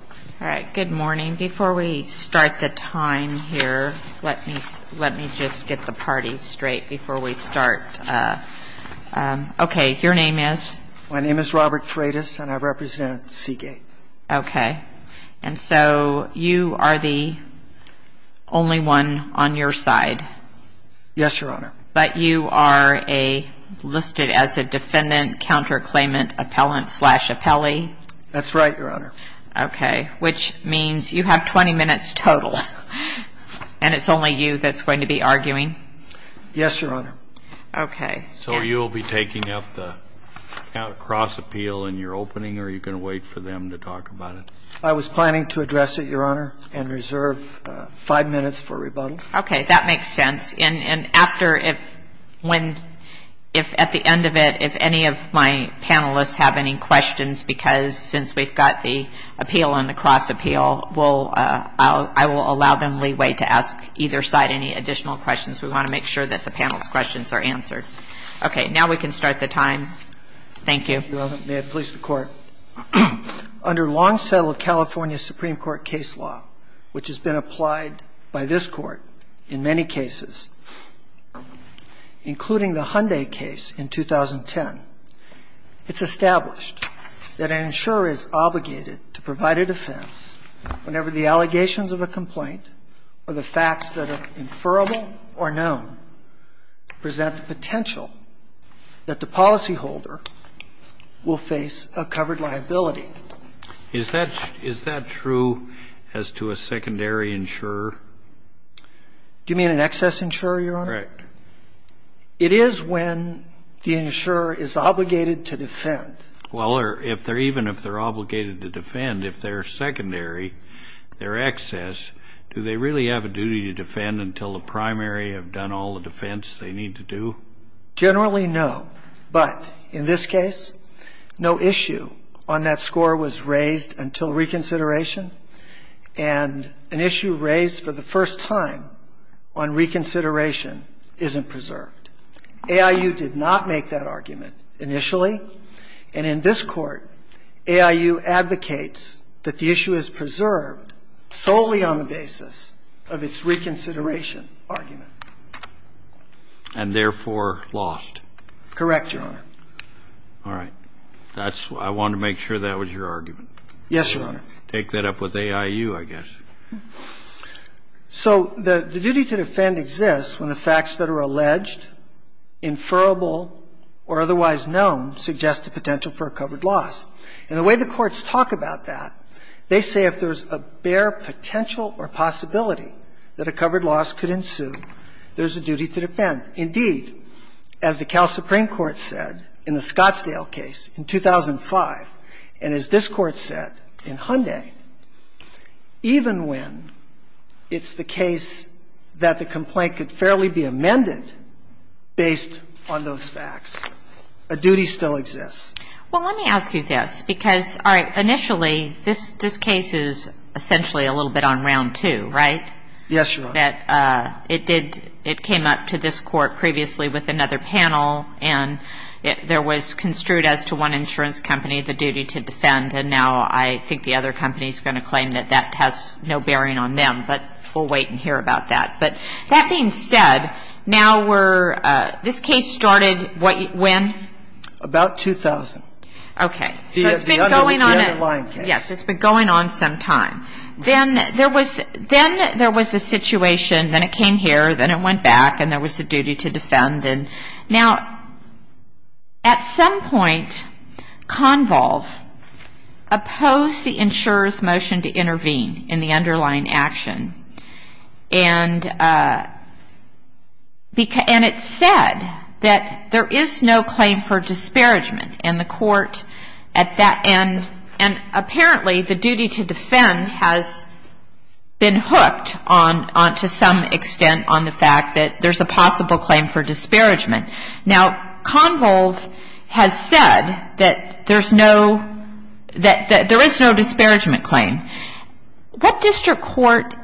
All right. Good morning. Before we start the time here, let me just get the party straight before we start. Okay. Your name is? My name is Robert Freitas, and I represent Seagate. Okay. And so you are the only one on your side? Yes, Your Honor. But you are listed as a defendant counterclaimant appellant slash appellee? That's right, Your Honor. Okay. Which means you have 20 minutes total, and it's only you that's going to be arguing? Yes, Your Honor. Okay. So you will be taking up the cross appeal in your opening, or are you going to wait for them to talk about it? I was planning to address it, Your Honor, and reserve five minutes for rebuttal. Okay. That makes sense. And after, if at the end of it, if any of my panelists have any questions, because since we've got the appeal and the cross appeal, I will allow them leeway to ask either side any additional questions. We want to make sure that the panel's questions are answered. Okay. Now we can start the time. Thank you. Thank you, Your Honor. May it please the Court. Under long-settled California Supreme Court case law, which has been applied by this Court in many cases, including the Hyundai case in 2010, it's established that an insurer is obligated to provide a defense whenever the allegations of a complaint or the facts that are inferrable or known present the potential that the policyholder will face a covered liability. Is that true as to a secondary insurer? Do you mean an excess insurer, Your Honor? Correct. It is when the insurer is obligated to defend. Well, even if they're obligated to defend, if they're secondary, they're excess, do they really have a duty to defend until the primary have done all the defense they need to do? Generally, no. But in this case, no issue on that score was raised until reconsideration. And an issue raised for the first time on reconsideration isn't preserved. AIU did not make that argument initially. And in this Court, AIU advocates that the issue is preserved solely on the basis of its reconsideration argument. And therefore, lost. Correct, Your Honor. All right. That's why I wanted to make sure that was your argument. Yes, Your Honor. Take that up with AIU, I guess. So the duty to defend exists when the facts that are alleged, inferable, or otherwise known suggest a potential for a covered loss. And the way the courts talk about that, they say if there's a bare potential or possibility that a covered loss could ensue, there's a duty to defend. Indeed, as the Cal Supreme Court said in the Scottsdale case in 2005, and as this Court said in Hyundai, even when it's the case that the complaint could fairly be amended based on those facts, a duty still exists. Well, let me ask you this, because, all right, initially, this case is essentially a little bit on round two, right? Yes, Your Honor. That it did — it came up to this Court previously with another panel, and there was construed as to one insurance company the duty to defend, and now I think the other company is going to claim that that has no bearing on them. But we'll wait and hear about that. But that being said, now we're — this case started when? About 2000. Okay. So it's been going on — The underlying case. Yes. It's been going on some time. Then there was — then there was a situation, then it came here, then it went back, and there was the duty to defend. Now, at some point, Convolve opposed the insurer's motion to intervene in the underlying action, and it said that there is no claim for disparagement, and the Court, at that end — and apparently the duty to defend has been hooked to some extent on the fact that there's a possible claim for disparagement. Now, Convolve has said that there's no — that there is no disparagement claim. What district court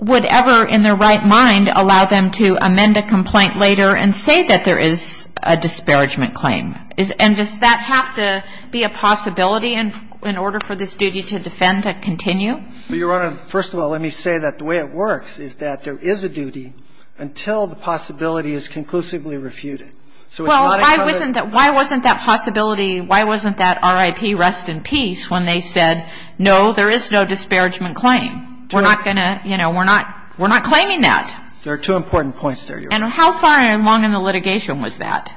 would ever, in their right mind, allow them to amend a complaint later and say that there is a disparagement claim? And does that have to be a possibility in order for this duty to defend to continue? Well, Your Honor, first of all, let me say that the way it works is that there is a duty until the possibility is conclusively refuted. Well, why wasn't that possibility — why wasn't that RIP rest in peace when they said, no, there is no disparagement claim? We're not going to — you know, we're not claiming that. There are two important points there, Your Honor. And how far along in the litigation was that?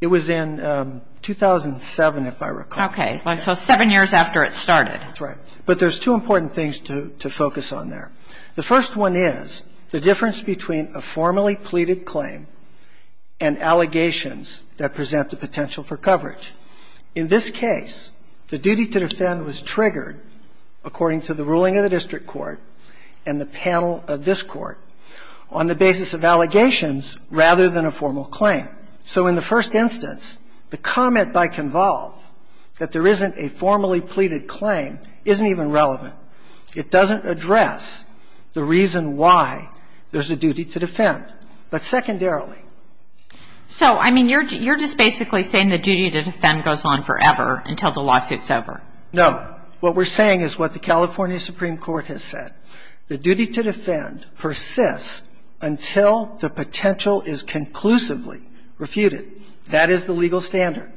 It was in 2007, if I recall. Okay. So seven years after it started. That's right. But there's two important things to focus on there. The first one is the difference between a formally pleaded claim and allegations that present the potential for coverage. In this case, the duty to defend was triggered, according to the ruling of the district court and the panel of this Court, on the basis of allegations rather than a formal claim. So in the first instance, the comment by Convolve that there isn't a formally pleaded claim isn't even relevant. It doesn't address the reason why there's a duty to defend. But secondarily — So, I mean, you're just basically saying the duty to defend goes on forever until the lawsuit's over. No. What we're saying is what the California Supreme Court has said. The duty to defend persists until the potential is conclusively refuted. That is the legal standard.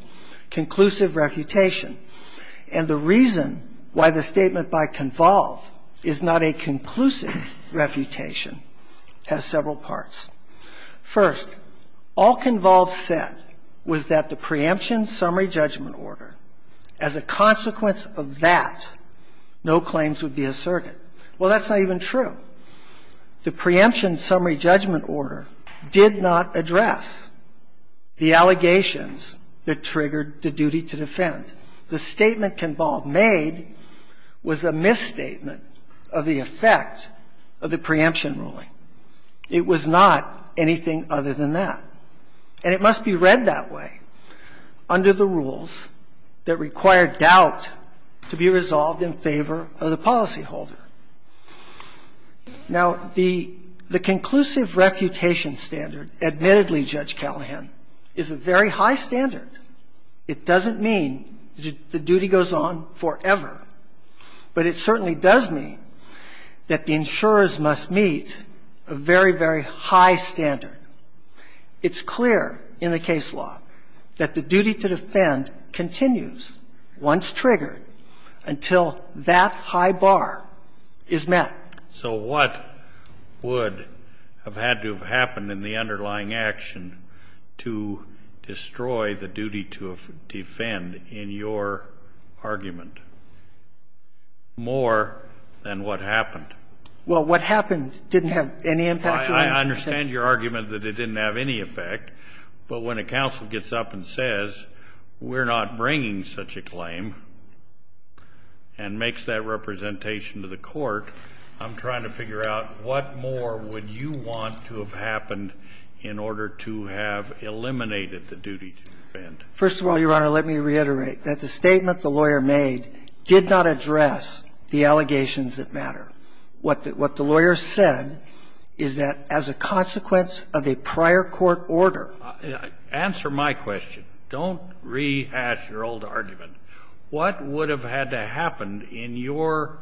Conclusive refutation. And the reason why the statement by Convolve is not a conclusive refutation has several parts. First, all Convolve said was that the preemption summary judgment order, as a consequence of that, no claims would be asserted. Well, that's not even true. The preemption summary judgment order did not address the allegations that triggered the duty to defend. The statement Convolve made was a misstatement of the effect of the preemption ruling. It was not anything other than that. And it must be read that way under the rules that require doubt to be resolved in favor of the policyholder. Now, the — the conclusive refutation standard, admittedly, Judge Callahan, is a very high standard. It doesn't mean the duty goes on forever. But it certainly does mean that the insurers must meet a very, very high standard. It's clear in the case law that the duty to defend continues once triggered until that high bar is met. So what would have had to have happened in the underlying action to destroy the duty to defend in your argument more than what happened? Well, what happened didn't have any impact. I understand your argument that it didn't have any effect. But when a counsel gets up and says, we're not bringing such a claim, and makes that representation to the court, I'm trying to figure out what more would you want to have happened in order to have eliminated the duty to defend. First of all, Your Honor, let me reiterate that the statement the lawyer made did not address the allegations that matter. What the lawyer said is that as a consequence of a prior court order. Answer my question. Don't rehash your old argument. What would have had to happen in your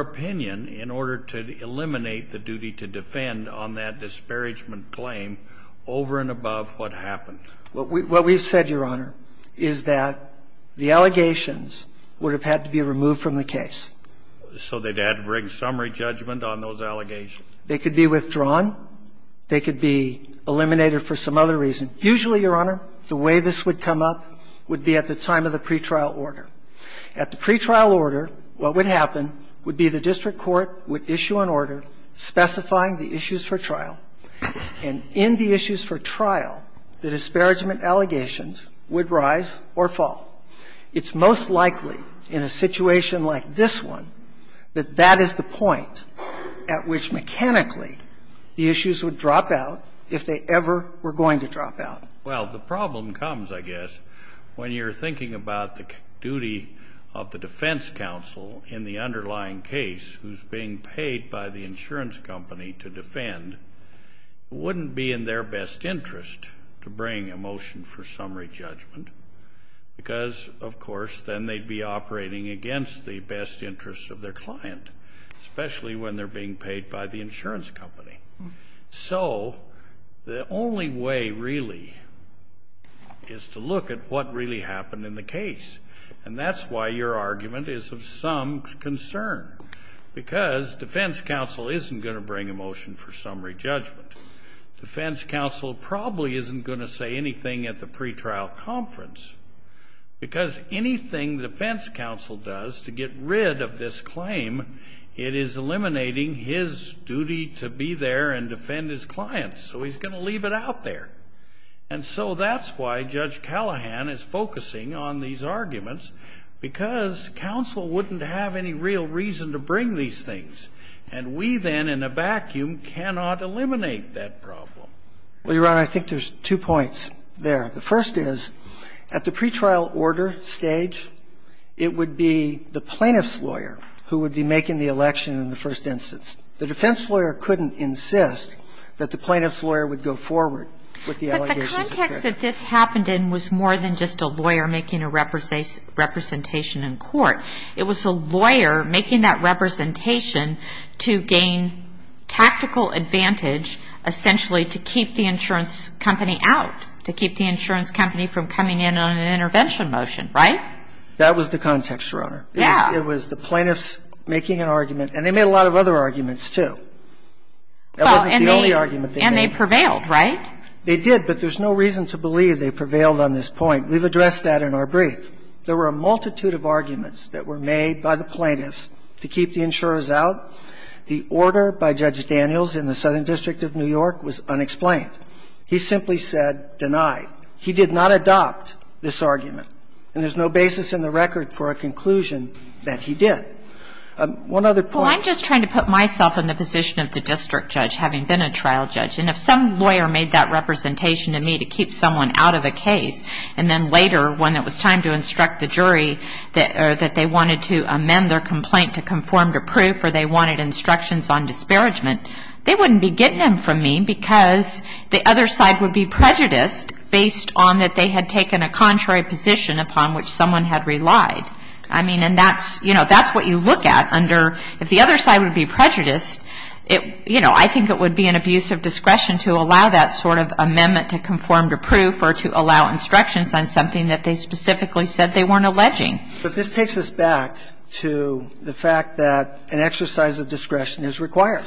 opinion in order to eliminate the duty to defend on that disparagement claim over and above what happened? What we've said, Your Honor, is that the allegations would have had to be removed from the case. So they'd have to bring summary judgment on those allegations? They could be withdrawn. They could be eliminated for some other reason. Usually, Your Honor, the way this would come up would be at the time of the pretrial order. At the pretrial order, what would happen would be the district court would issue an order specifying the issues for trial, and in the issues for trial, the disparagement allegations would rise or fall. It's most likely in a situation like this one that that is the point at which mechanically the issues would drop out if they ever were going to drop out. Well, the problem comes, I guess, when you're thinking about the duty of the defense counsel in the underlying case who's being paid by the insurance company to defend. It wouldn't be in their best interest to bring a motion for summary judgment, because, of course, then they'd be operating against the best interests of their insurance company. So the only way, really, is to look at what really happened in the case. And that's why your argument is of some concern, because defense counsel isn't going to bring a motion for summary judgment. Defense counsel probably isn't going to say anything at the pretrial conference, because anything defense counsel does to get rid of this claim, it is eliminating his duty to be there and defend his clients. So he's going to leave it out there. And so that's why Judge Callahan is focusing on these arguments, because counsel wouldn't have any real reason to bring these things. And we then, in a vacuum, cannot eliminate that problem. Well, Your Honor, I think there's two points there. The first is, at the pretrial order stage, it would be the plaintiff's lawyer who would be making the election in the first instance. The defense lawyer couldn't insist that the plaintiff's lawyer would go forward with the allegations. But the context that this happened in was more than just a lawyer making a representation in court. It was a lawyer making that representation to gain tactical advantage, essentially to keep the insurance company out, to keep the insurance company from coming in on an intervention motion. Right? That was the context, Your Honor. Yeah. It was the plaintiffs making an argument. And they made a lot of other arguments, too. That wasn't the only argument they made. And they prevailed, right? They did. But there's no reason to believe they prevailed on this point. We've addressed that in our brief. There were a multitude of arguments that were made by the plaintiffs to keep the insurers out. The order by Judge Daniels in the Southern District of New York was unexplained. He simply said, deny. He did not adopt this argument. And there's no basis in the record for a conclusion that he did. One other point. Well, I'm just trying to put myself in the position of the district judge having been a trial judge. And if some lawyer made that representation to me to keep someone out of a case, and then later when it was time to instruct the jury that they wanted to amend their complaint to conform to proof or they wanted instructions on disparagement, they wouldn't be getting them from me because the other side would be prejudiced based on that they had taken a contrary position upon which someone had relied. I mean, and that's, you know, that's what you look at under, if the other side would be prejudiced, you know, I think it would be an abuse of discretion to allow that sort of amendment to conform to proof or to allow instructions on something that they specifically said they weren't alleging. But this takes us back to the fact that an exercise of discretion is required.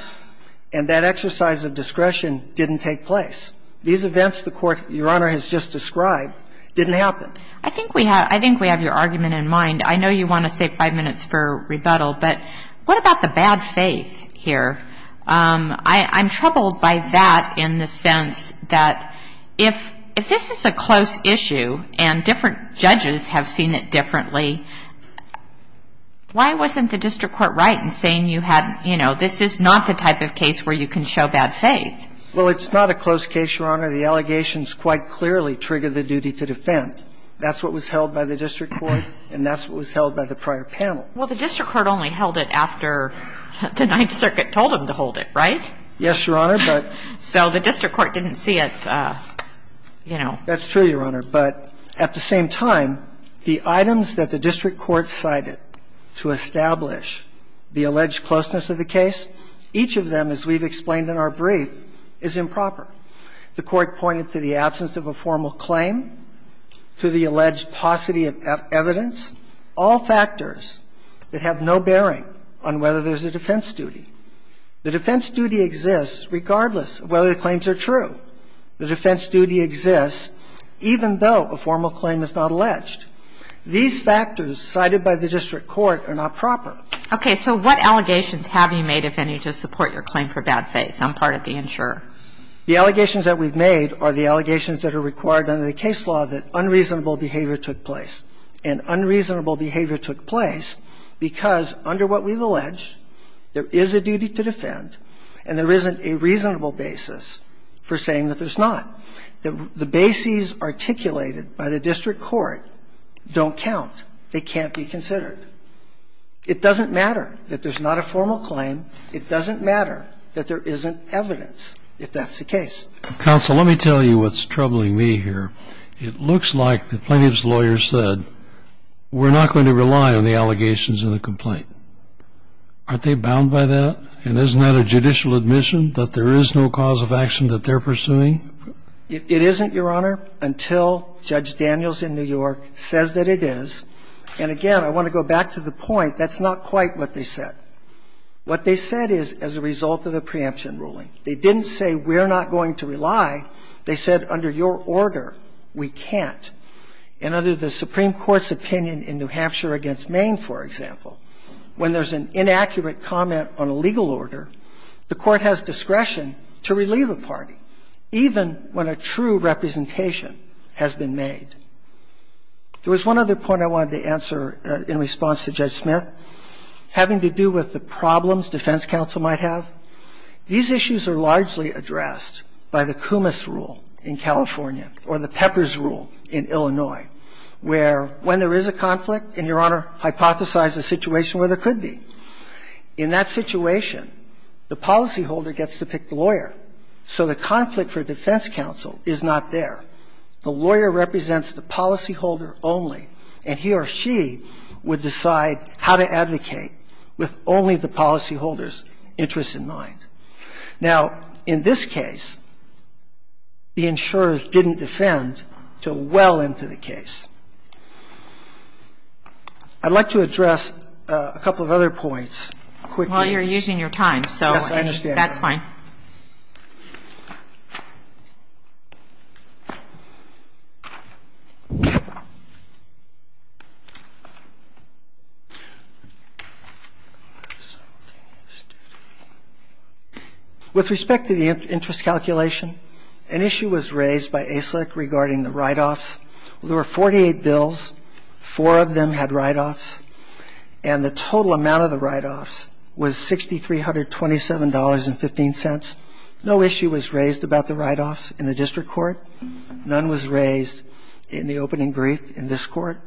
And that exercise of discretion didn't take place. These events the Court, Your Honor, has just described didn't happen. I think we have your argument in mind. I know you want to save five minutes for rebuttal, but what about the bad faith here? I'm troubled by that in the sense that if this is a close issue and different judges have seen it differently, why wasn't the district court right in saying, you know, this is not the type of case where you can show bad faith? Well, it's not a close case, Your Honor. The allegations quite clearly trigger the duty to defend. That's what was held by the district court and that's what was held by the prior panel. Well, the district court only held it after the Ninth Circuit told them to hold it, right? Yes, Your Honor. So the district court didn't see it, you know. That's true, Your Honor. But at the same time, the items that the district court cited to establish the alleged closeness of the case, each of them, as we've explained in our brief, is improper. The court pointed to the absence of a formal claim, to the alleged paucity of evidence, all factors that have no bearing on whether there's a defense duty. The defense duty exists regardless of whether the claims are true. The defense duty exists even though a formal claim is not alleged. These factors cited by the district court are not proper. Okay. So what allegations have you made, if any, to support your claim for bad faith? I'm part of the insurer. The allegations that we've made are the allegations that are required under the case law that unreasonable behavior took place. And unreasonable behavior took place because, under what we've alleged, there is a duty to defend and there isn't a reasonable basis for saying that there's not. The bases articulated by the district court don't count. They can't be considered. It doesn't matter that there's not a formal claim. It doesn't matter that there isn't evidence, if that's the case. Counsel, let me tell you what's troubling me here. It looks like the plaintiff's lawyer said, we're not going to rely on the allegations in the complaint. Aren't they bound by that? And isn't that a judicial admission that there is no cause of action that they're pursuing? It isn't, Your Honor, until Judge Daniels in New York says that it is. And, again, I want to go back to the point, that's not quite what they said. What they said is, as a result of the preemption ruling, they didn't say, we're not going to rely. They said, under your order, we can't. And under the Supreme Court's opinion in New Hampshire v. Maine, for example, when there's an inaccurate comment on a legal order, the Court has discretion to relieve a party, even when a true representation has been made. There was one other point I wanted to answer in response to Judge Smith, having to do with the problems defense counsel might have. These issues are largely addressed by the Coumas rule in California or the Peppers rule in Illinois, where when there is a conflict, and, Your Honor, hypothesize a situation where there could be. In that situation, the policyholder gets to pick the lawyer. So the conflict for defense counsel is not there. The lawyer represents the policyholder only, and he or she would decide how to advocate with only the policyholder's interests in mind. Now, in this case, the insurers didn't defend until well into the case. I'd like to address a couple of other points quickly. Yes, I understand, Your Honor. That's fine. With respect to the interest calculation, an issue was raised by ASIC regarding the write-offs. There were 48 bills. Four of them had write-offs. And the total amount of the write-offs was $6,327.15. No issue was raised about the write-offs in the district court. None was raised in the opening brief in this court.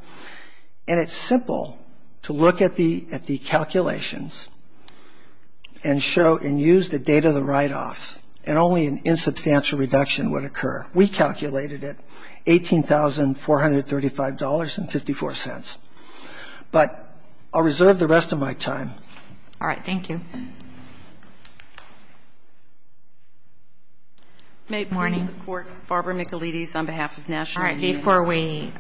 And it's simple to look at the calculations and use the date of the write-offs, and only an insubstantial reduction would occur. We calculated it, $18,435.54. It doesn't make sense. But I'll reserve the rest of my time. All right. Thank you. May it please the Court, Barbara Michelides on behalf of National Union. All right. Before we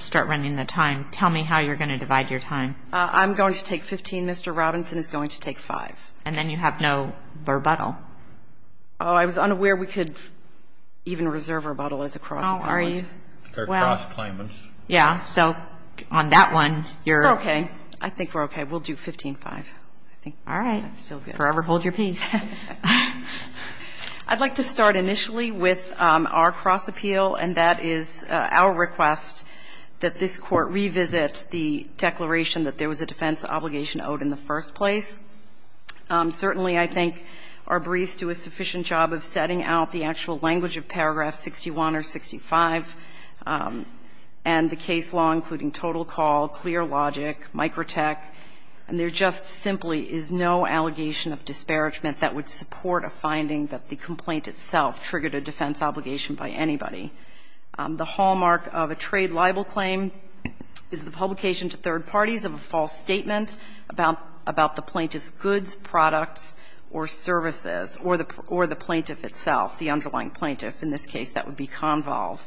start running the time, tell me how you're going to divide your time. I'm going to take 15. Mr. Robinson is going to take 5. And then you have no rebuttal. Oh, I was unaware we could even reserve rebuttal as a cross-appeal. How are you? They're cross-claimants. Yeah. So on that one, you're okay. I think we're okay. We'll do 15.5. All right. Forever hold your peace. I'd like to start initially with our cross-appeal, and that is our request that this court revisit the declaration that there was a defense obligation owed in the first place. Certainly, I think our briefs do a sufficient job of setting out the actual language of paragraph 61 or 65 and the case law, including total call, clear logic, microtech. And there just simply is no allegation of disparagement that would support a finding that the complaint itself triggered a defense obligation by anybody. The hallmark of a trade libel claim is the publication to third parties of a false statement about the plaintiff's goods, products, or services, or the plaintiff itself, the underlying plaintiff. In this case, that would be Convolve.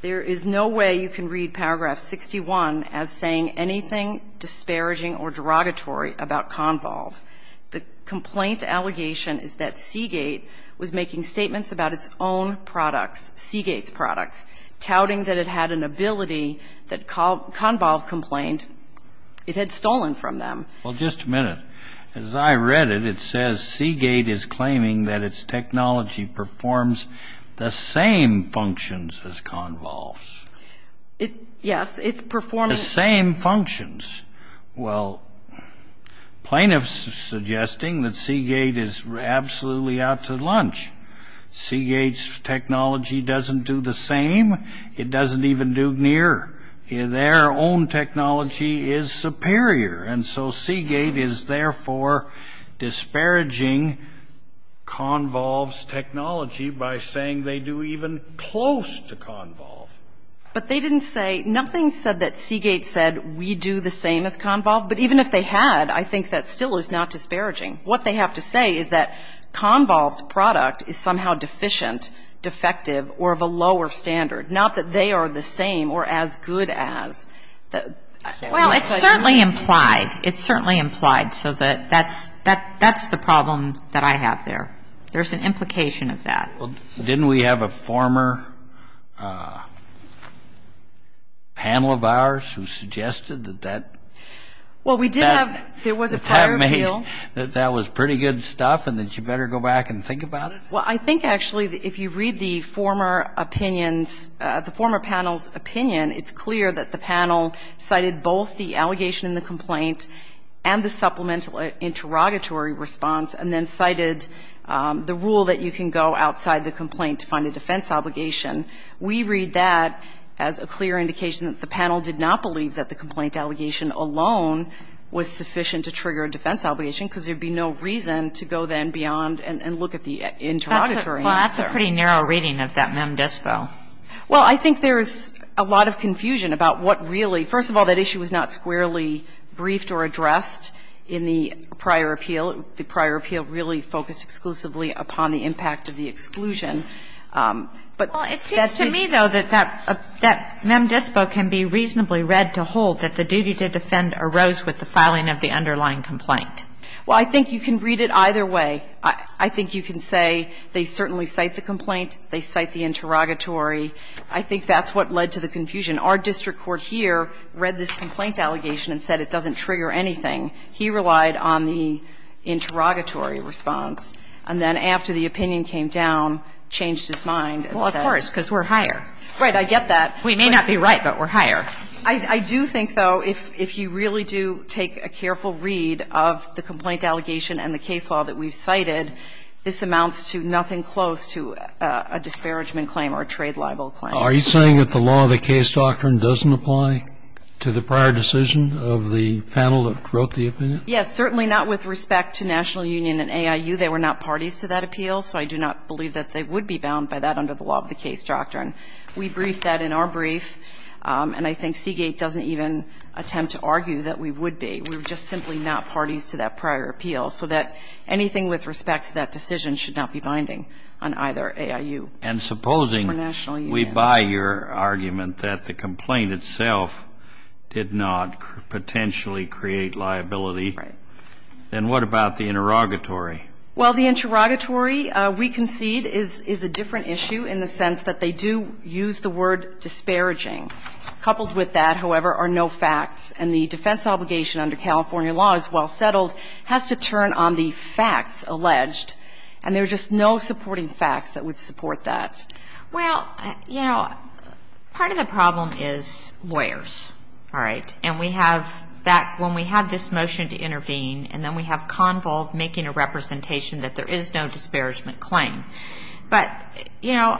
There is no way you can read paragraph 61 as saying anything disparaging or derogatory about Convolve. The complaint allegation is that Seagate was making statements about its own products, Seagate's products, touting that it had an ability that Convolve complained it had stolen from them. Well, just a minute. As I read it, it says Seagate is claiming that its technology performs the same functions as Convolve's. Yes, its performance. The same functions. Well, plaintiffs are suggesting that Seagate is absolutely out to lunch. Seagate's technology doesn't do the same. It doesn't even do near. Their own technology is superior. And so Seagate is therefore disparaging Convolve's technology by saying they do even close to Convolve. But they didn't say, nothing said that Seagate said we do the same as Convolve. But even if they had, I think that still is not disparaging. What they have to say is that Convolve's product is somehow deficient, defective, or of a lower standard. Not that they are the same or as good as. Well, it's certainly implied. It's certainly implied. So that's the problem that I have there. There's an implication of that. Well, didn't we have a former panel of ours who suggested that that? Well, we did have. There was a prior appeal. That that was pretty good stuff and that you better go back and think about it? Well, I think, actually, if you read the former opinions, the former panel's opinion, it's clear that the panel cited both the allegation in the complaint and the supplemental interrogatory response, and then cited the rule that you can go outside the complaint to find a defense obligation. We read that as a clear indication that the panel did not believe that the complaint allegation alone was sufficient to trigger a defense obligation because there would be no reason to go then beyond and look at the interrogatory answer. Well, that's a pretty narrow reading of that mem dispo. Well, I think there's a lot of confusion about what really – first of all, that issue was not squarely briefed or addressed in the prior appeal. The prior appeal really focused exclusively upon the impact of the exclusion. But that's the – Well, it seems to me, though, that that mem dispo can be reasonably read to hold that the duty to defend arose with the filing of the underlying complaint. Well, I think you can read it either way. I think you can say they certainly cite the complaint, they cite the interrogatory. I think that's what led to the confusion. Our district court here read this complaint allegation and said it doesn't trigger anything. He relied on the interrogatory response. And then after the opinion came down, changed his mind and said – Well, of course, because we're higher. Right. I get that. We may not be right, but we're higher. I do think, though, if you really do take a careful read of the complaint allegation and the case law that we've cited, this amounts to nothing close to a disparagement claim or a trade libel claim. Are you saying that the law of the case doctrine doesn't apply to the prior decision of the panel that wrote the opinion? Yes, certainly not with respect to National Union and AIU. They were not parties to that appeal, so I do not believe that they would be bound by that under the law of the case doctrine. We briefed that in our brief, and I think Seagate doesn't even attempt to argue that we would be. We're just simply not parties to that prior appeal, so that anything with respect to that decision should not be binding on either AIU or National Union. And supposing we buy your argument that the complaint itself did not potentially create liability, then what about the interrogatory? Well, the interrogatory, we concede, is a different issue in the sense that they do use the word disparaging. Coupled with that, however, are no facts, and the defense obligation under California law as well settled has to turn on the facts alleged, and there's just no supporting facts that would support that. Well, you know, part of the problem is lawyers, all right? And we have that when we have this motion to intervene, and then we have Convo making a representation that there is no disparagement claim. But, you know,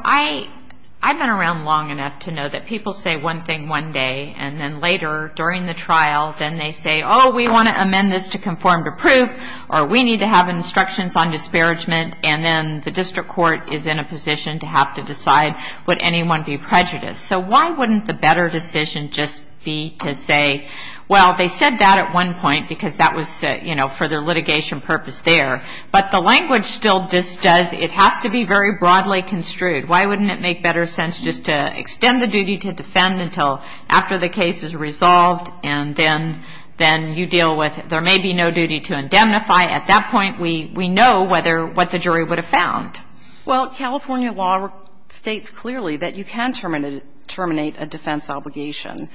I've been around long enough to know that people say one thing one day, and then later, during the trial, then they say, oh, we want to amend this to conform to proof, or we need to have instructions on disparagement, and then the district court is in a position to have to decide would anyone be prejudiced. So why wouldn't the better decision just be to say, well, they said that at one And there's no purpose there. But the language still does, it has to be very broadly construed. Why wouldn't it make better sense just to extend the duty to defend until after the case is resolved, and then you deal with there may be no duty to indemnify. At that point, we know whether what the jury would have found. Well, California law states clearly that you can terminate a defense obligation.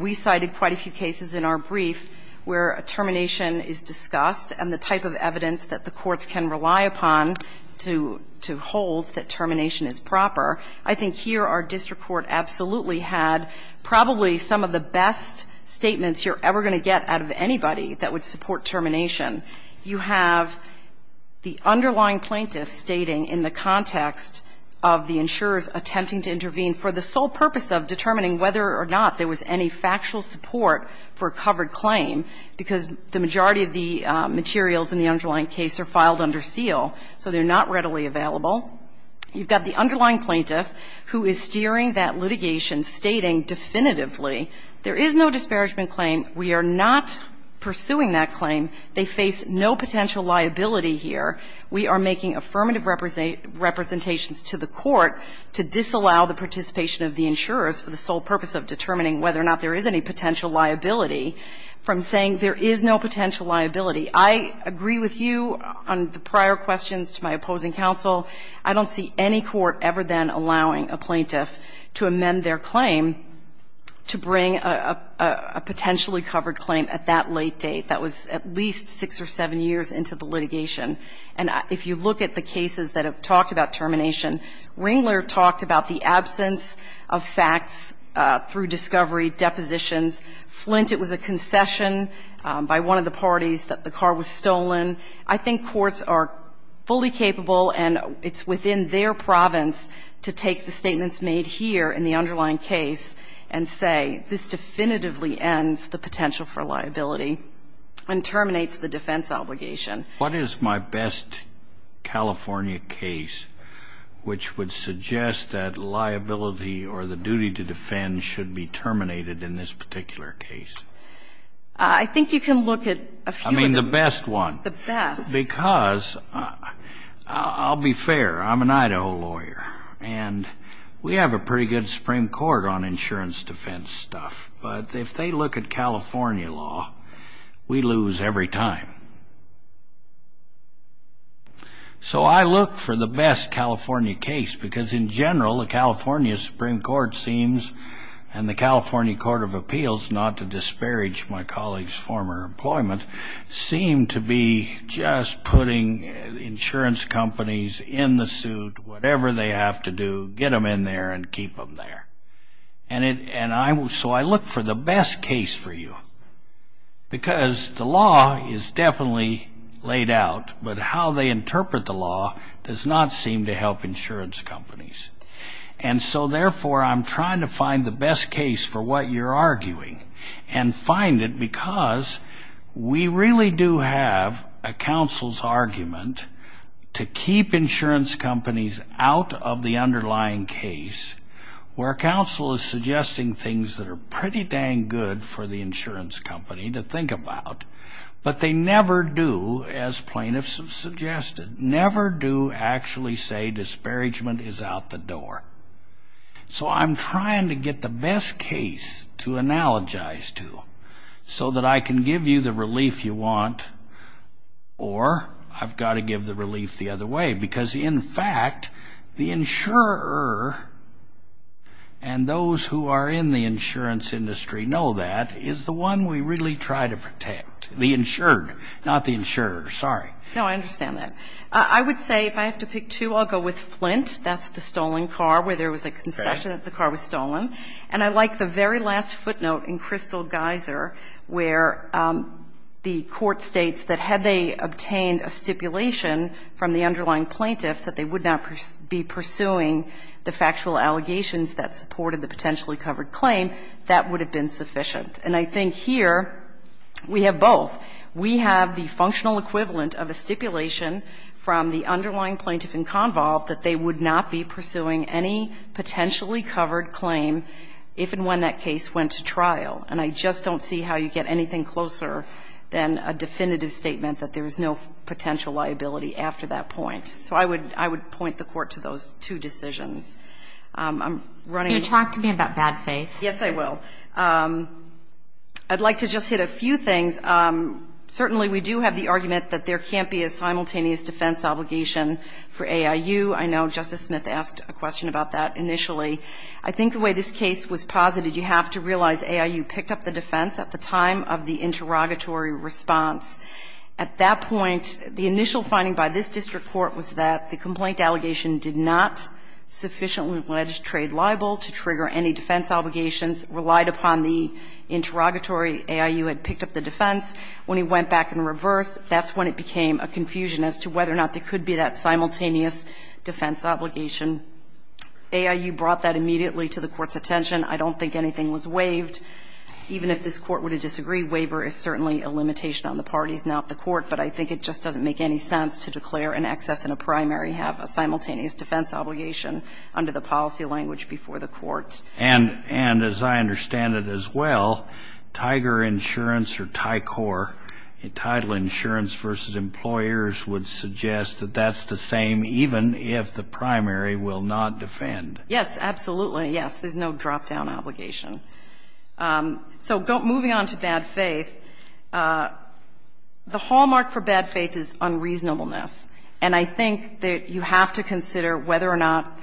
We cited quite a few cases in our brief where a termination is discussed, and the type of evidence that the courts can rely upon to hold that termination is proper. I think here our district court absolutely had probably some of the best statements you're ever going to get out of anybody that would support termination. You have the underlying plaintiff stating in the context of the insurers attempting to intervene for the sole purpose of determining whether or not there was any factual support for a covered claim, because the majority of the materials in the underlying case are filed under seal, so they're not readily available. You've got the underlying plaintiff, who is steering that litigation, stating definitively there is no disparagement claim, we are not pursuing that claim, they face no potential liability here. We are making affirmative representations to the court to disallow the participation of the insurers for the sole purpose of determining whether or not there is any potential liability from saying there is no potential liability. I agree with you on the prior questions to my opposing counsel. I don't see any court ever then allowing a plaintiff to amend their claim to bring a potentially covered claim at that late date. That was at least six or seven years into the litigation. And if you look at the cases that have talked about termination, Ringler talked about the absence of facts through discovery, depositions. Flint, it was a concession by one of the parties that the car was stolen. I think courts are fully capable and it's within their province to take the statements made here in the underlying case and say this definitively ends the potential for liability and terminates the defense obligation. What is my best California case which would suggest that liability or the duty to defend should be terminated in this particular case? I think you can look at a few of them. I mean the best one. The best. Because I'll be fair. I'm an Idaho lawyer. And we have a pretty good Supreme Court on insurance defense stuff. But if they look at California law, we lose every time. So I look for the best California case because, in general, the California Supreme Court seems and the California Court of Appeals, not to disparage my colleague's former employment, seem to be just putting insurance companies in the suit, whatever they have to do, get them in there and keep them there. And so I look for the best case for you because the law is definitely laid out, but how they interpret the law does not seem to help insurance companies. And so, therefore, I'm trying to find the best case for what you're arguing and find it because we really do have a counsel's argument to keep insurance companies out of the underlying case where counsel is suggesting things that are pretty dang good for the insurance company to think about, but they never do, as plaintiffs have suggested, never do actually say disparagement is out the door. So I'm trying to get the best case to analogize to so that I can give you the relief you want or I've got to give the relief the other way. Because, in fact, the insurer and those who are in the insurance industry know that is the one we really try to protect, the insured, not the insurer. Sorry. No, I understand that. I would say if I have to pick two, I'll go with Flint. That's the stolen car where there was a concession that the car was stolen. And I like the very last footnote in Crystal Geyser where the court states that had they obtained a stipulation from the underlying plaintiff that they would not be pursuing the factual allegations that supported the potentially covered claim, that would have been sufficient. And I think here we have both. We have the functional equivalent of a stipulation from the underlying plaintiff in convolve that they would not be pursuing any potentially covered claim if and when that case went to trial. And I just don't see how you get anything closer than a definitive statement that there is no potential liability after that point. So I would point the Court to those two decisions. I'm running out of time. You talk to me about bad faith. Yes, I will. I'd like to just hit a few things. Certainly we do have the argument that there can't be a simultaneous defense obligation for AIU. I know Justice Smith asked a question about that initially. I think the way this case was posited, you have to realize AIU picked up the defense at the time of the interrogatory response. At that point, the initial finding by this district court was that the complaint allegation did not sufficiently legislate liable to trigger any defense obligations relied upon the interrogatory. AIU had picked up the defense. When it went back in reverse, that's when it became a confusion as to whether or not there could be that simultaneous defense obligation. AIU brought that immediately to the Court's attention. I don't think anything was waived. Even if this Court were to disagree, waiver is certainly a limitation on the parties, not the Court. But I think it just doesn't make any sense to declare an excess in a primary, have a simultaneous defense obligation under the policy language before the Court. And as I understand it as well, TIGER Insurance or TICOR, Title Insurance v. Employers, would suggest that that's the same even if the primary will not defend. Yes, absolutely. Yes, there's no drop-down obligation. So moving on to bad faith, the hallmark for bad faith is unreasonableness. And I think that you have to consider whether or not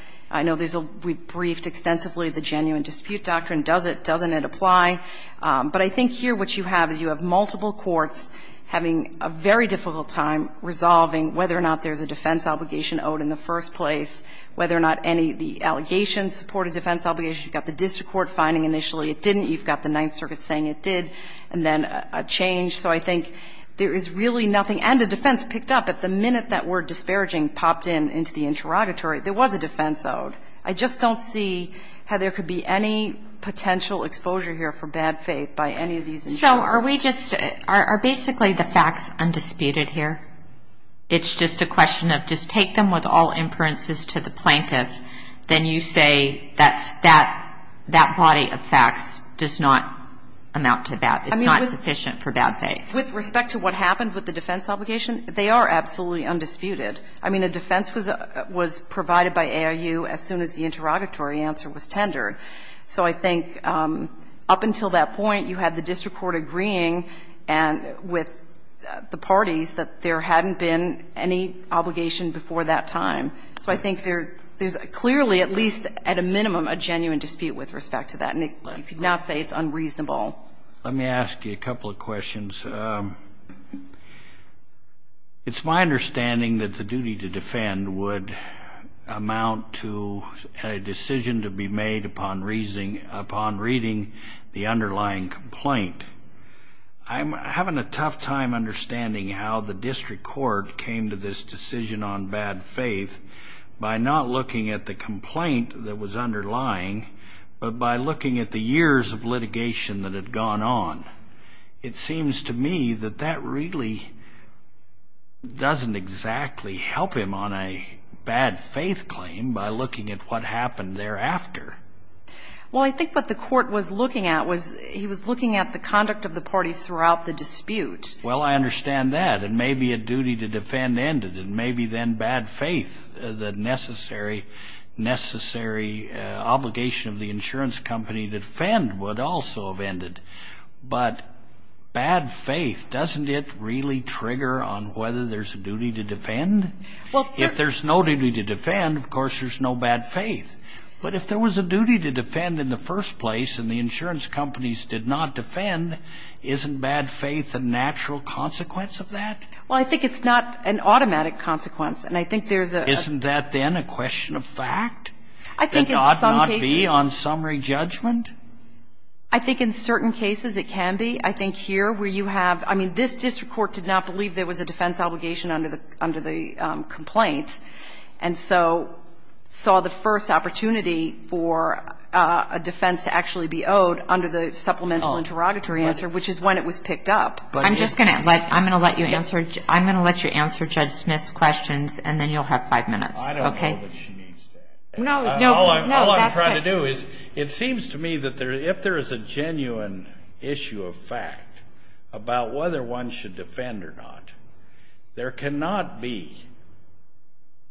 we briefed extensively on whether or not there's really the genuine dispute doctrine. Does it? Doesn't it apply? But I think here what you have is you have multiple courts having a very difficult time resolving whether or not there's a defense obligation owed in the first place, whether or not any of the allegations support a defense obligation. You've got the district court finding initially it didn't. You've got the Ninth Circuit saying it did, and then a change. So I think there is really nothing. And the defense picked up. At the minute that word disparaging popped in into the interrogatory, there was a defense obligation owed. I just don't see how there could be any potential exposure here for bad faith by any of these individuals. So are we just – are basically the facts undisputed here? It's just a question of just take them with all inferences to the plaintiff, then you say that's – that body of facts does not amount to that. It's not sufficient for bad faith. With respect to what happened with the defense obligation, they are absolutely undisputed. I mean, a defense was provided by ARU as soon as the interrogatory answer was tendered. So I think up until that point, you had the district court agreeing with the parties that there hadn't been any obligation before that time. So I think there's clearly at least at a minimum a genuine dispute with respect to that, and you could not say it's unreasonable. Let me ask you a couple of questions. It's my understanding that the duty to defend would amount to a decision to be made upon reading the underlying complaint. I'm having a tough time understanding how the district court came to this decision on bad faith by not looking at the complaint that was underlying, but by looking at the years of litigation that had gone on. It seems to me that that really doesn't exactly help him on a bad faith claim by looking at what happened thereafter. Well, I think what the court was looking at was he was looking at the conduct of the parties throughout the dispute. Well, I understand that. And maybe a duty to defend ended, and maybe then bad faith, the necessary obligation of the insurance company to defend would also have ended. But bad faith, doesn't it really trigger on whether there's a duty to defend? If there's no duty to defend, of course there's no bad faith. But if there was a duty to defend in the first place and the insurance companies did not defend, isn't bad faith a natural consequence of that? Well, I think it's not an automatic consequence. Isn't that then a question of fact? It ought not be on summary judgment? I think in certain cases it can be. I think here where you have ‑‑ I mean, this district court did not believe there was a defense obligation under the complaint, and so saw the first opportunity for a defense to actually be owed under the supplemental interrogatory answer, which is when it was picked up. I'm just going to ‑‑ I'm going to let you answer Judge Smith's questions, and then you'll have five minutes, okay? I don't know that she needs to answer that. No, that's fine. What I want to do is it seems to me that if there is a genuine issue of fact about whether one should defend or not, there cannot be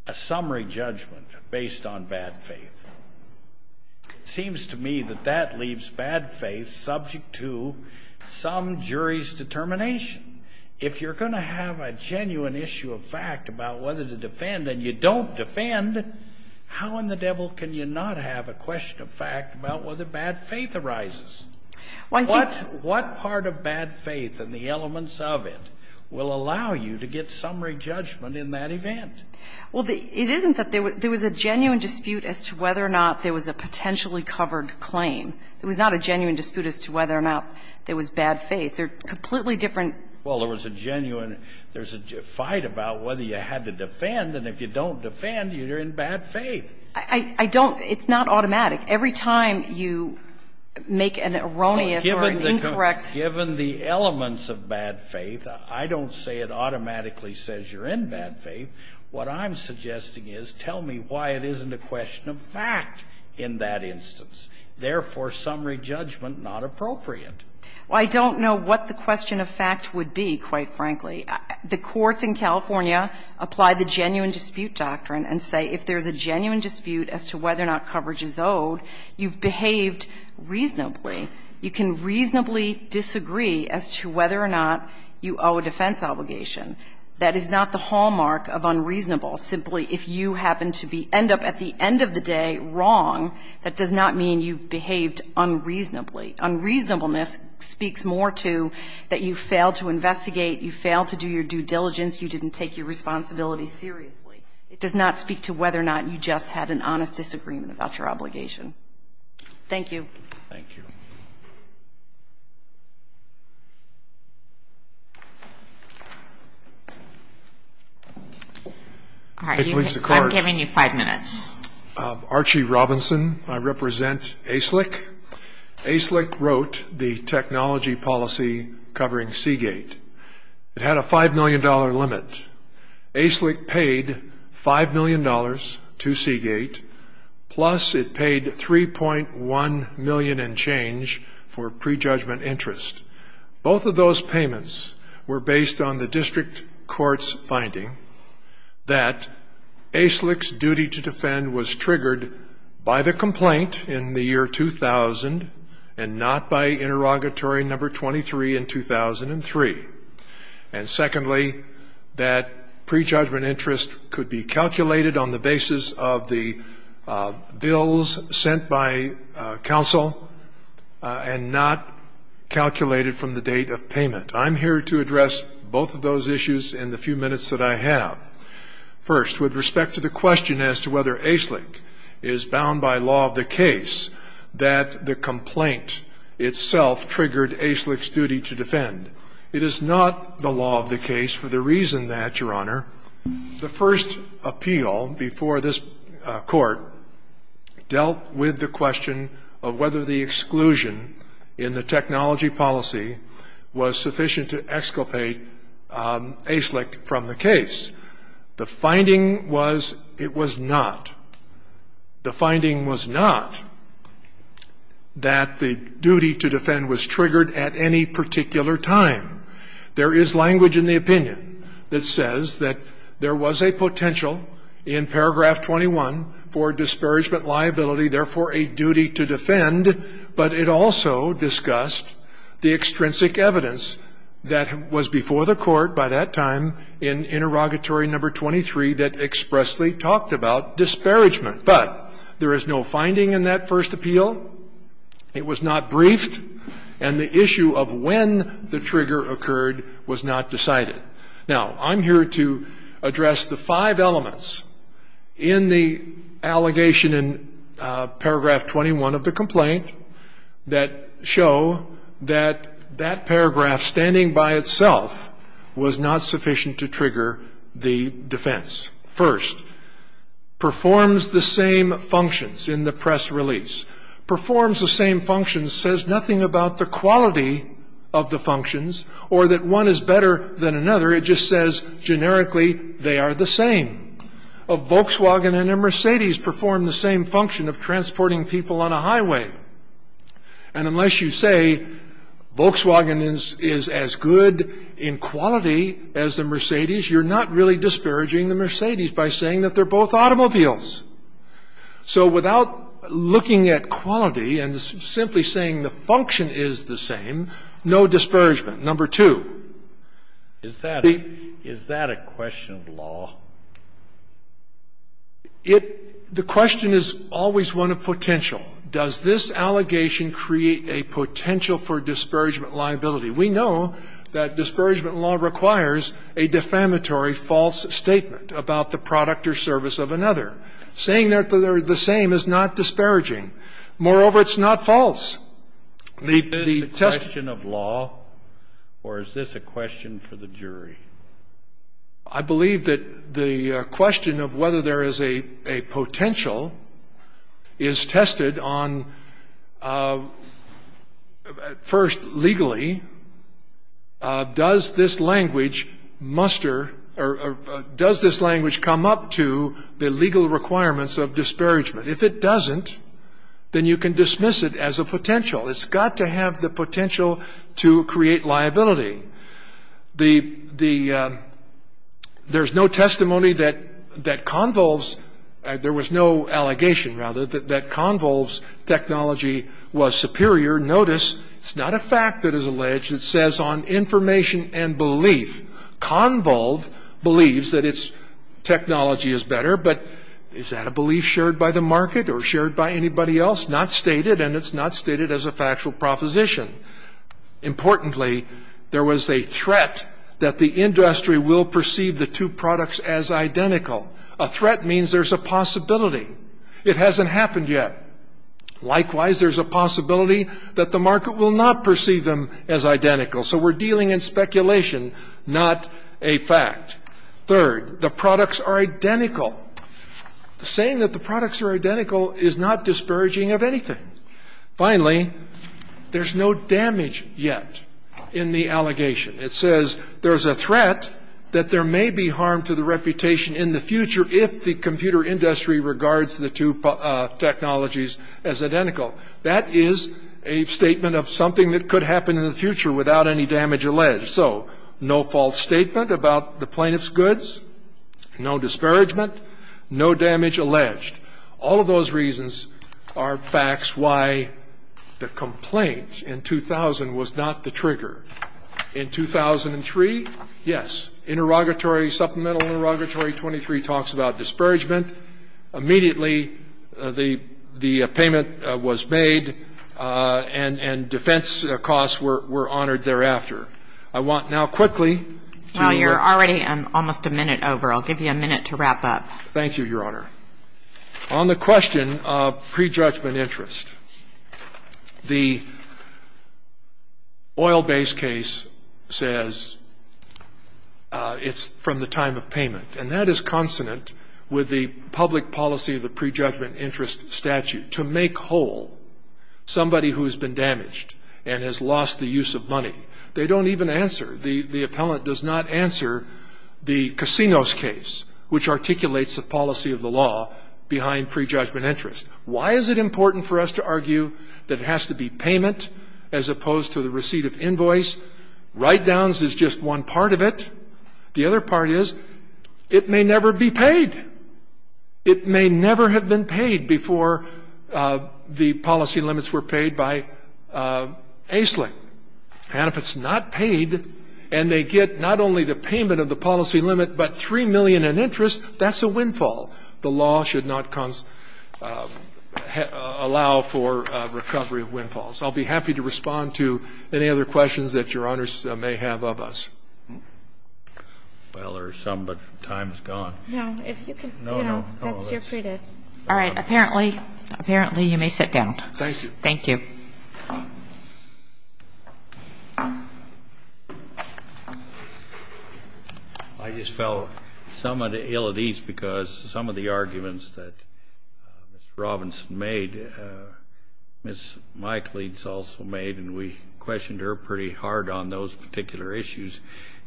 a summary judgment based on bad faith. It seems to me that that leaves bad faith subject to some jury's determination. If you're going to have a genuine issue of fact about whether to defend and you don't defend, how in the devil can you not have a question of fact about whether bad faith arises? What part of bad faith and the elements of it will allow you to get summary judgment in that event? Well, it isn't that ‑‑ there was a genuine dispute as to whether or not there was a potentially covered claim. It was not a genuine dispute as to whether or not there was bad faith. They're completely different. Well, there was a genuine ‑‑ there's a fight about whether you had to defend, and if you don't defend, you're in bad faith. I don't ‑‑ it's not automatic. Every time you make an erroneous or an incorrect ‑‑ Well, given the elements of bad faith, I don't say it automatically says you're in bad faith. What I'm suggesting is tell me why it isn't a question of fact in that instance, therefore summary judgment not appropriate. Well, I don't know what the question of fact would be, quite frankly. The courts in California apply the genuine dispute doctrine and say if there's a genuine dispute as to whether or not coverage is owed, you've behaved reasonably. You can reasonably disagree as to whether or not you owe a defense obligation. That is not the hallmark of unreasonable. Simply if you happen to be ‑‑ end up at the end of the day wrong, that does not mean you've behaved unreasonably. Unreasonableness speaks more to that you failed to investigate, you failed to do your due diligence, you didn't take your responsibility seriously. It does not speak to whether or not you just had an honest disagreement about your obligation. Thank you. Thank you. All right. I'm giving you five minutes. Archie Robinson. I represent ASLIC. ASLIC wrote the technology policy covering Seagate. It had a $5 million limit. ASLIC paid $5 million to Seagate, plus it paid 3.1 million and change for prejudgment interest. Both of those payments were based on the district court's finding that ASLIC's triggered by the complaint in the year 2000 and not by interrogatory number 23 in 2003. And secondly, that prejudgment interest could be calculated on the basis of the bills sent by counsel and not calculated from the date of payment. I'm here to address both of those issues in the few minutes that I have. First, with respect to the question as to whether ASLIC is bound by law of the case that the complaint itself triggered ASLIC's duty to defend, it is not the law of the case for the reason that, Your Honor, the first appeal before this court dealt with the question of whether the exclusion in the technology policy was sufficient to The finding was it was not. The finding was not that the duty to defend was triggered at any particular time. There is language in the opinion that says that there was a potential in paragraph 21 for disparagement liability, therefore a duty to defend, but it also discussed the extrinsic evidence that was before the court by that time in interrogatory number 23 that expressly talked about disparagement. But there is no finding in that first appeal. It was not briefed. And the issue of when the trigger occurred was not decided. Now, I'm here to address the five elements in the allegation in paragraph 21 of the complaint that show that that paragraph standing by itself was not sufficient to trigger the defense. First, performs the same functions in the press release. Performs the same functions says nothing about the quality of the functions or that one is better than another. It just says generically they are the same. A Volkswagen and a Mercedes perform the same function of transporting people on a highway. And unless you say Volkswagen is as good in quality as a Mercedes, you're not really disparaging the Mercedes by saying that they're both automobiles. So without looking at quality and simply saying the function is the same, no disparagement. Number two. Is that a question of law? It the question is always one of potential. Does this allegation create a potential for disparagement liability? We know that disparagement law requires a defamatory false statement about the product or service of another. Saying that they're the same is not disparaging. Moreover, it's not false. Is this a question of law or is this a question for the jury? I believe that the question of whether there is a potential is tested on, first, legally. Does this language muster or does this language come up to the legal requirements of disparagement? If it doesn't, then you can dismiss it as a potential. It's got to have the potential to create liability. There's no testimony that Convolve's, there was no allegation, rather, that Convolve's technology was superior. Notice it's not a fact that is alleged. It says on information and belief. Convolve believes that its technology is better, but is that a belief shared by the market or shared by anybody else? Not stated, and it's not stated as a factual proposition. Importantly, there was a threat that the industry will perceive the two products as identical. A threat means there's a possibility. It hasn't happened yet. Likewise, there's a possibility that the market will not perceive them as identical. So we're dealing in speculation, not a fact. Third, the products are identical. Saying that the products are identical is not disparaging of anything. Finally, there's no damage yet in the allegation. It says there's a threat that there may be harm to the reputation in the future if the computer industry regards the two technologies as identical. That is a statement of something that could happen in the future without any damage alleged. So no false statement about the plaintiff's goods, no disparagement, no damage alleged. All of those reasons are facts why the complaint in 2000 was not the trigger. In 2003, yes, interrogatory, supplemental interrogatory 23 talks about disparagement. Immediately, the payment was made, and defense costs were honored thereafter. I want now quickly to look at. Well, you're already almost a minute over. I'll give you a minute to wrap up. Thank you, Your Honor. On the question of prejudgment interest, the oil base case says it's from the time of payment. And that is consonant with the public policy of the prejudgment interest statute, to make whole somebody who has been damaged and has lost the use of money. They don't even answer. The appellant does not answer the Casinos case, which articulates the policy of the law behind prejudgment interest. Why is it important for us to argue that it has to be payment as opposed to the receipt of invoice? Write-downs is just one part of it. The other part is it may never be paid. It may never have been paid before the policy limits were paid by AISLING. And if it's not paid, and they get not only the payment of the policy limit, but $3 million in interest, that's a windfall. The law should not allow for recovery of windfalls. I'll be happy to respond to any other questions that Your Honors may have of us. Well, there's some, but time is gone. No, if you can, you know, that's your free day. All right. Apparently you may sit down. Thank you. Thank you. I just felt somewhat ill at ease because some of the arguments that Mr. Robinson made, Ms. Mikeleads also made, and we questioned her pretty hard on those particular issues.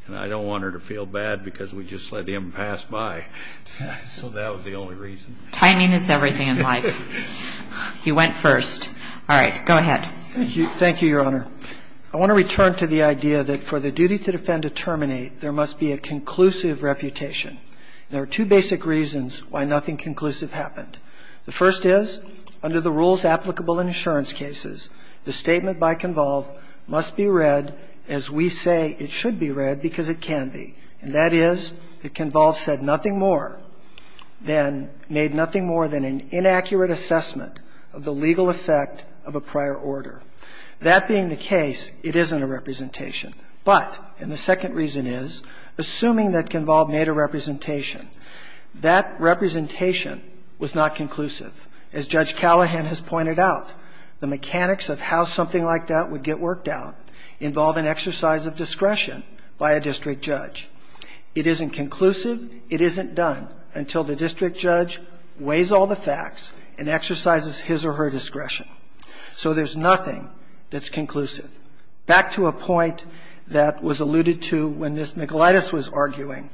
And I don't want her to feel bad because we just let him pass by. So that was the only reason. Timing is everything in life. He went first. All right. Go ahead. Thank you, Your Honor. I want to return to the idea that for the duty to defend a terminate, there must be a conclusive refutation. There are two basic reasons why nothing conclusive happened. The first is, under the rules applicable in insurance cases, the statement by Convolve must be read as we say it should be read because it can be. And that is that Convolve said nothing more than, made nothing more than an inaccurate assessment of the legal effect of a prior order. That being the case, it isn't a representation. But, and the second reason is, assuming that Convolve made a representation, that representation was not conclusive. As Judge Callahan has pointed out, the mechanics of how something like that would get worked out involve an exercise of discretion by a district judge. It isn't conclusive. It isn't done until the district judge weighs all the facts and exercises his or her discretion. So there's nothing that's conclusive. Back to a point that was alluded to when Ms. McGillitis was arguing.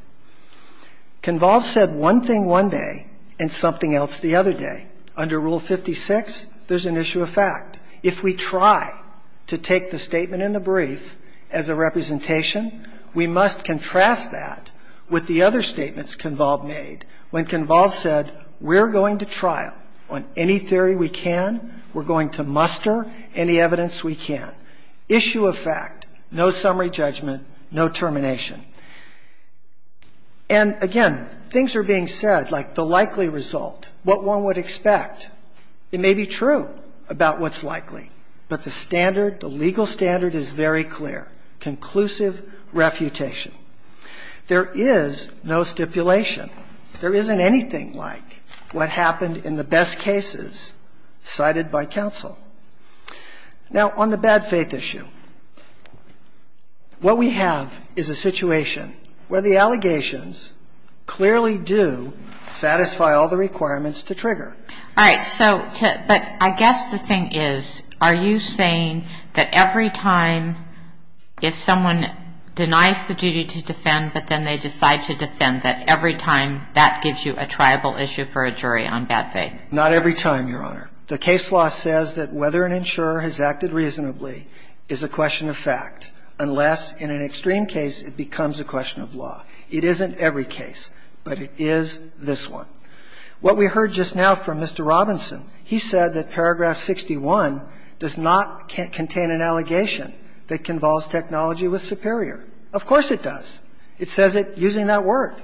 Convolve said one thing one day and something else the other day. Under Rule 56, there's an issue of fact. If we try to take the statement in the brief as a representation, we must contrast that with the other statements Convolve made when Convolve said, we're going to trial on any theory we can. We're going to muster any evidence we can. Issue of fact, no summary judgment, no termination. And, again, things are being said, like the likely result, what one would expect. It may be true about what's likely, but the standard, the legal standard is very clear, conclusive refutation. There is no stipulation. There isn't anything like what happened in the best cases cited by counsel. Now, on the bad faith issue, what we have is a situation where the allegations clearly do satisfy all the requirements to trigger. All right. So but I guess the thing is, are you saying that every time if someone denies the duty to defend, but then they decide to defend, that every time that gives you a triable issue for a jury on bad faith? Not every time, Your Honor. The case law says that whether an insurer has acted reasonably is a question of fact, unless in an extreme case it becomes a question of law. It isn't every case, but it is this one. What we heard just now from Mr. Robinson, he said that paragraph 61 does not contain an allegation that Convolve's technology was superior. Of course it does. It says it using that word.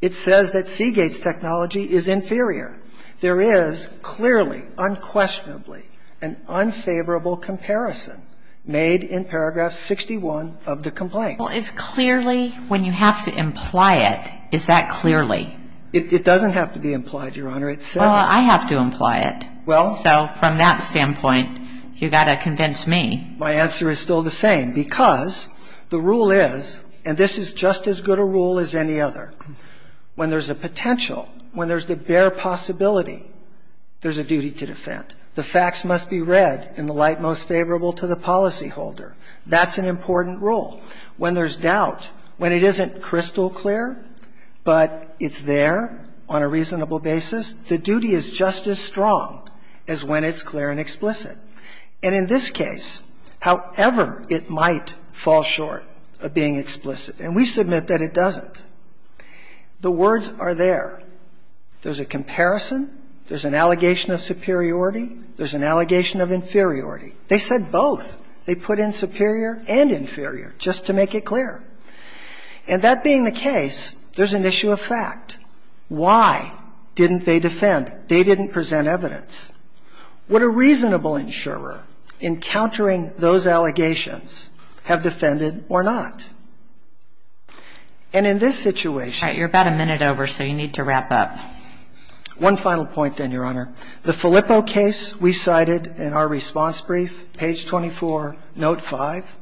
It says that Seagate's technology is inferior. There is clearly, unquestionably, an unfavorable comparison made in paragraph 61 of the complaint. Well, it's clearly when you have to imply it, is that clearly? It doesn't have to be implied, Your Honor. It says it. Well, I have to imply it. Well. So from that standpoint, you've got to convince me. My answer is still the same, because the rule is, and this is just as good a rule as any other. When there's a potential, when there's the bare possibility, there's a duty to defend. The facts must be read in the light most favorable to the policyholder. That's an important rule. When there's doubt, when it isn't crystal clear, but it's there on a reasonable basis, the duty is just as strong as when it's clear and explicit. And in this case, however it might fall short of being explicit, and we submit that it doesn't. The words are there. There's a comparison. There's an allegation of superiority. There's an allegation of inferiority. They said both. They put in superior and inferior, just to make it clear. And that being the case, there's an issue of fact. Why didn't they defend? They didn't present evidence. What a reasonable insurer, in countering those allegations, have defended or not. And in this situation. All right. You're about a minute over, so you need to wrap up. One final point, then, Your Honor. The Filippo case we cited in our response brief, page 24, note 5,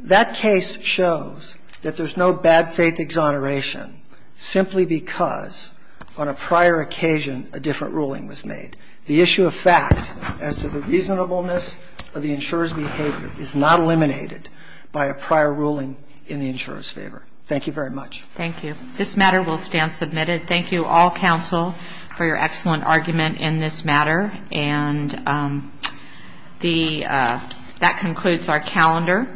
that case shows that there's no bad faith exoneration simply because on a prior occasion a different ruling was made. The issue of fact as to the reasonableness of the insurer's behavior is not eliminated by a prior ruling in the insurer's favor. Thank you very much. Thank you. This matter will stand submitted. Thank you, all counsel, for your excellent argument in this matter. And that concludes our calendar.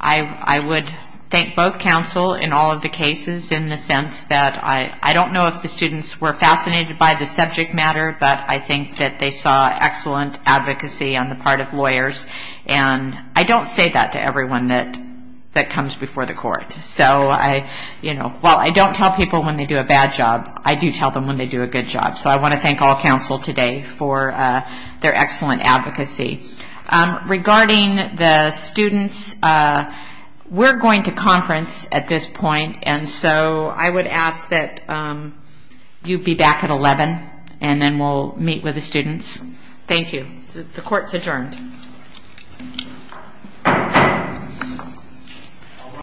I would thank both counsel in all of the cases in the sense that I don't know if the students were fascinated by the subject matter, but I think that they saw excellent advocacy on the part of lawyers. And I don't say that to everyone that comes before the court. So I, you know, while I don't tell people when they do a bad job, I do tell them when they do a good job. So I want to thank all counsel today for their excellent advocacy. Regarding the students, we're going to conference at this point. And so I would ask that you be back at 11, and then we'll meet with the students. Thank you. The court is adjourned.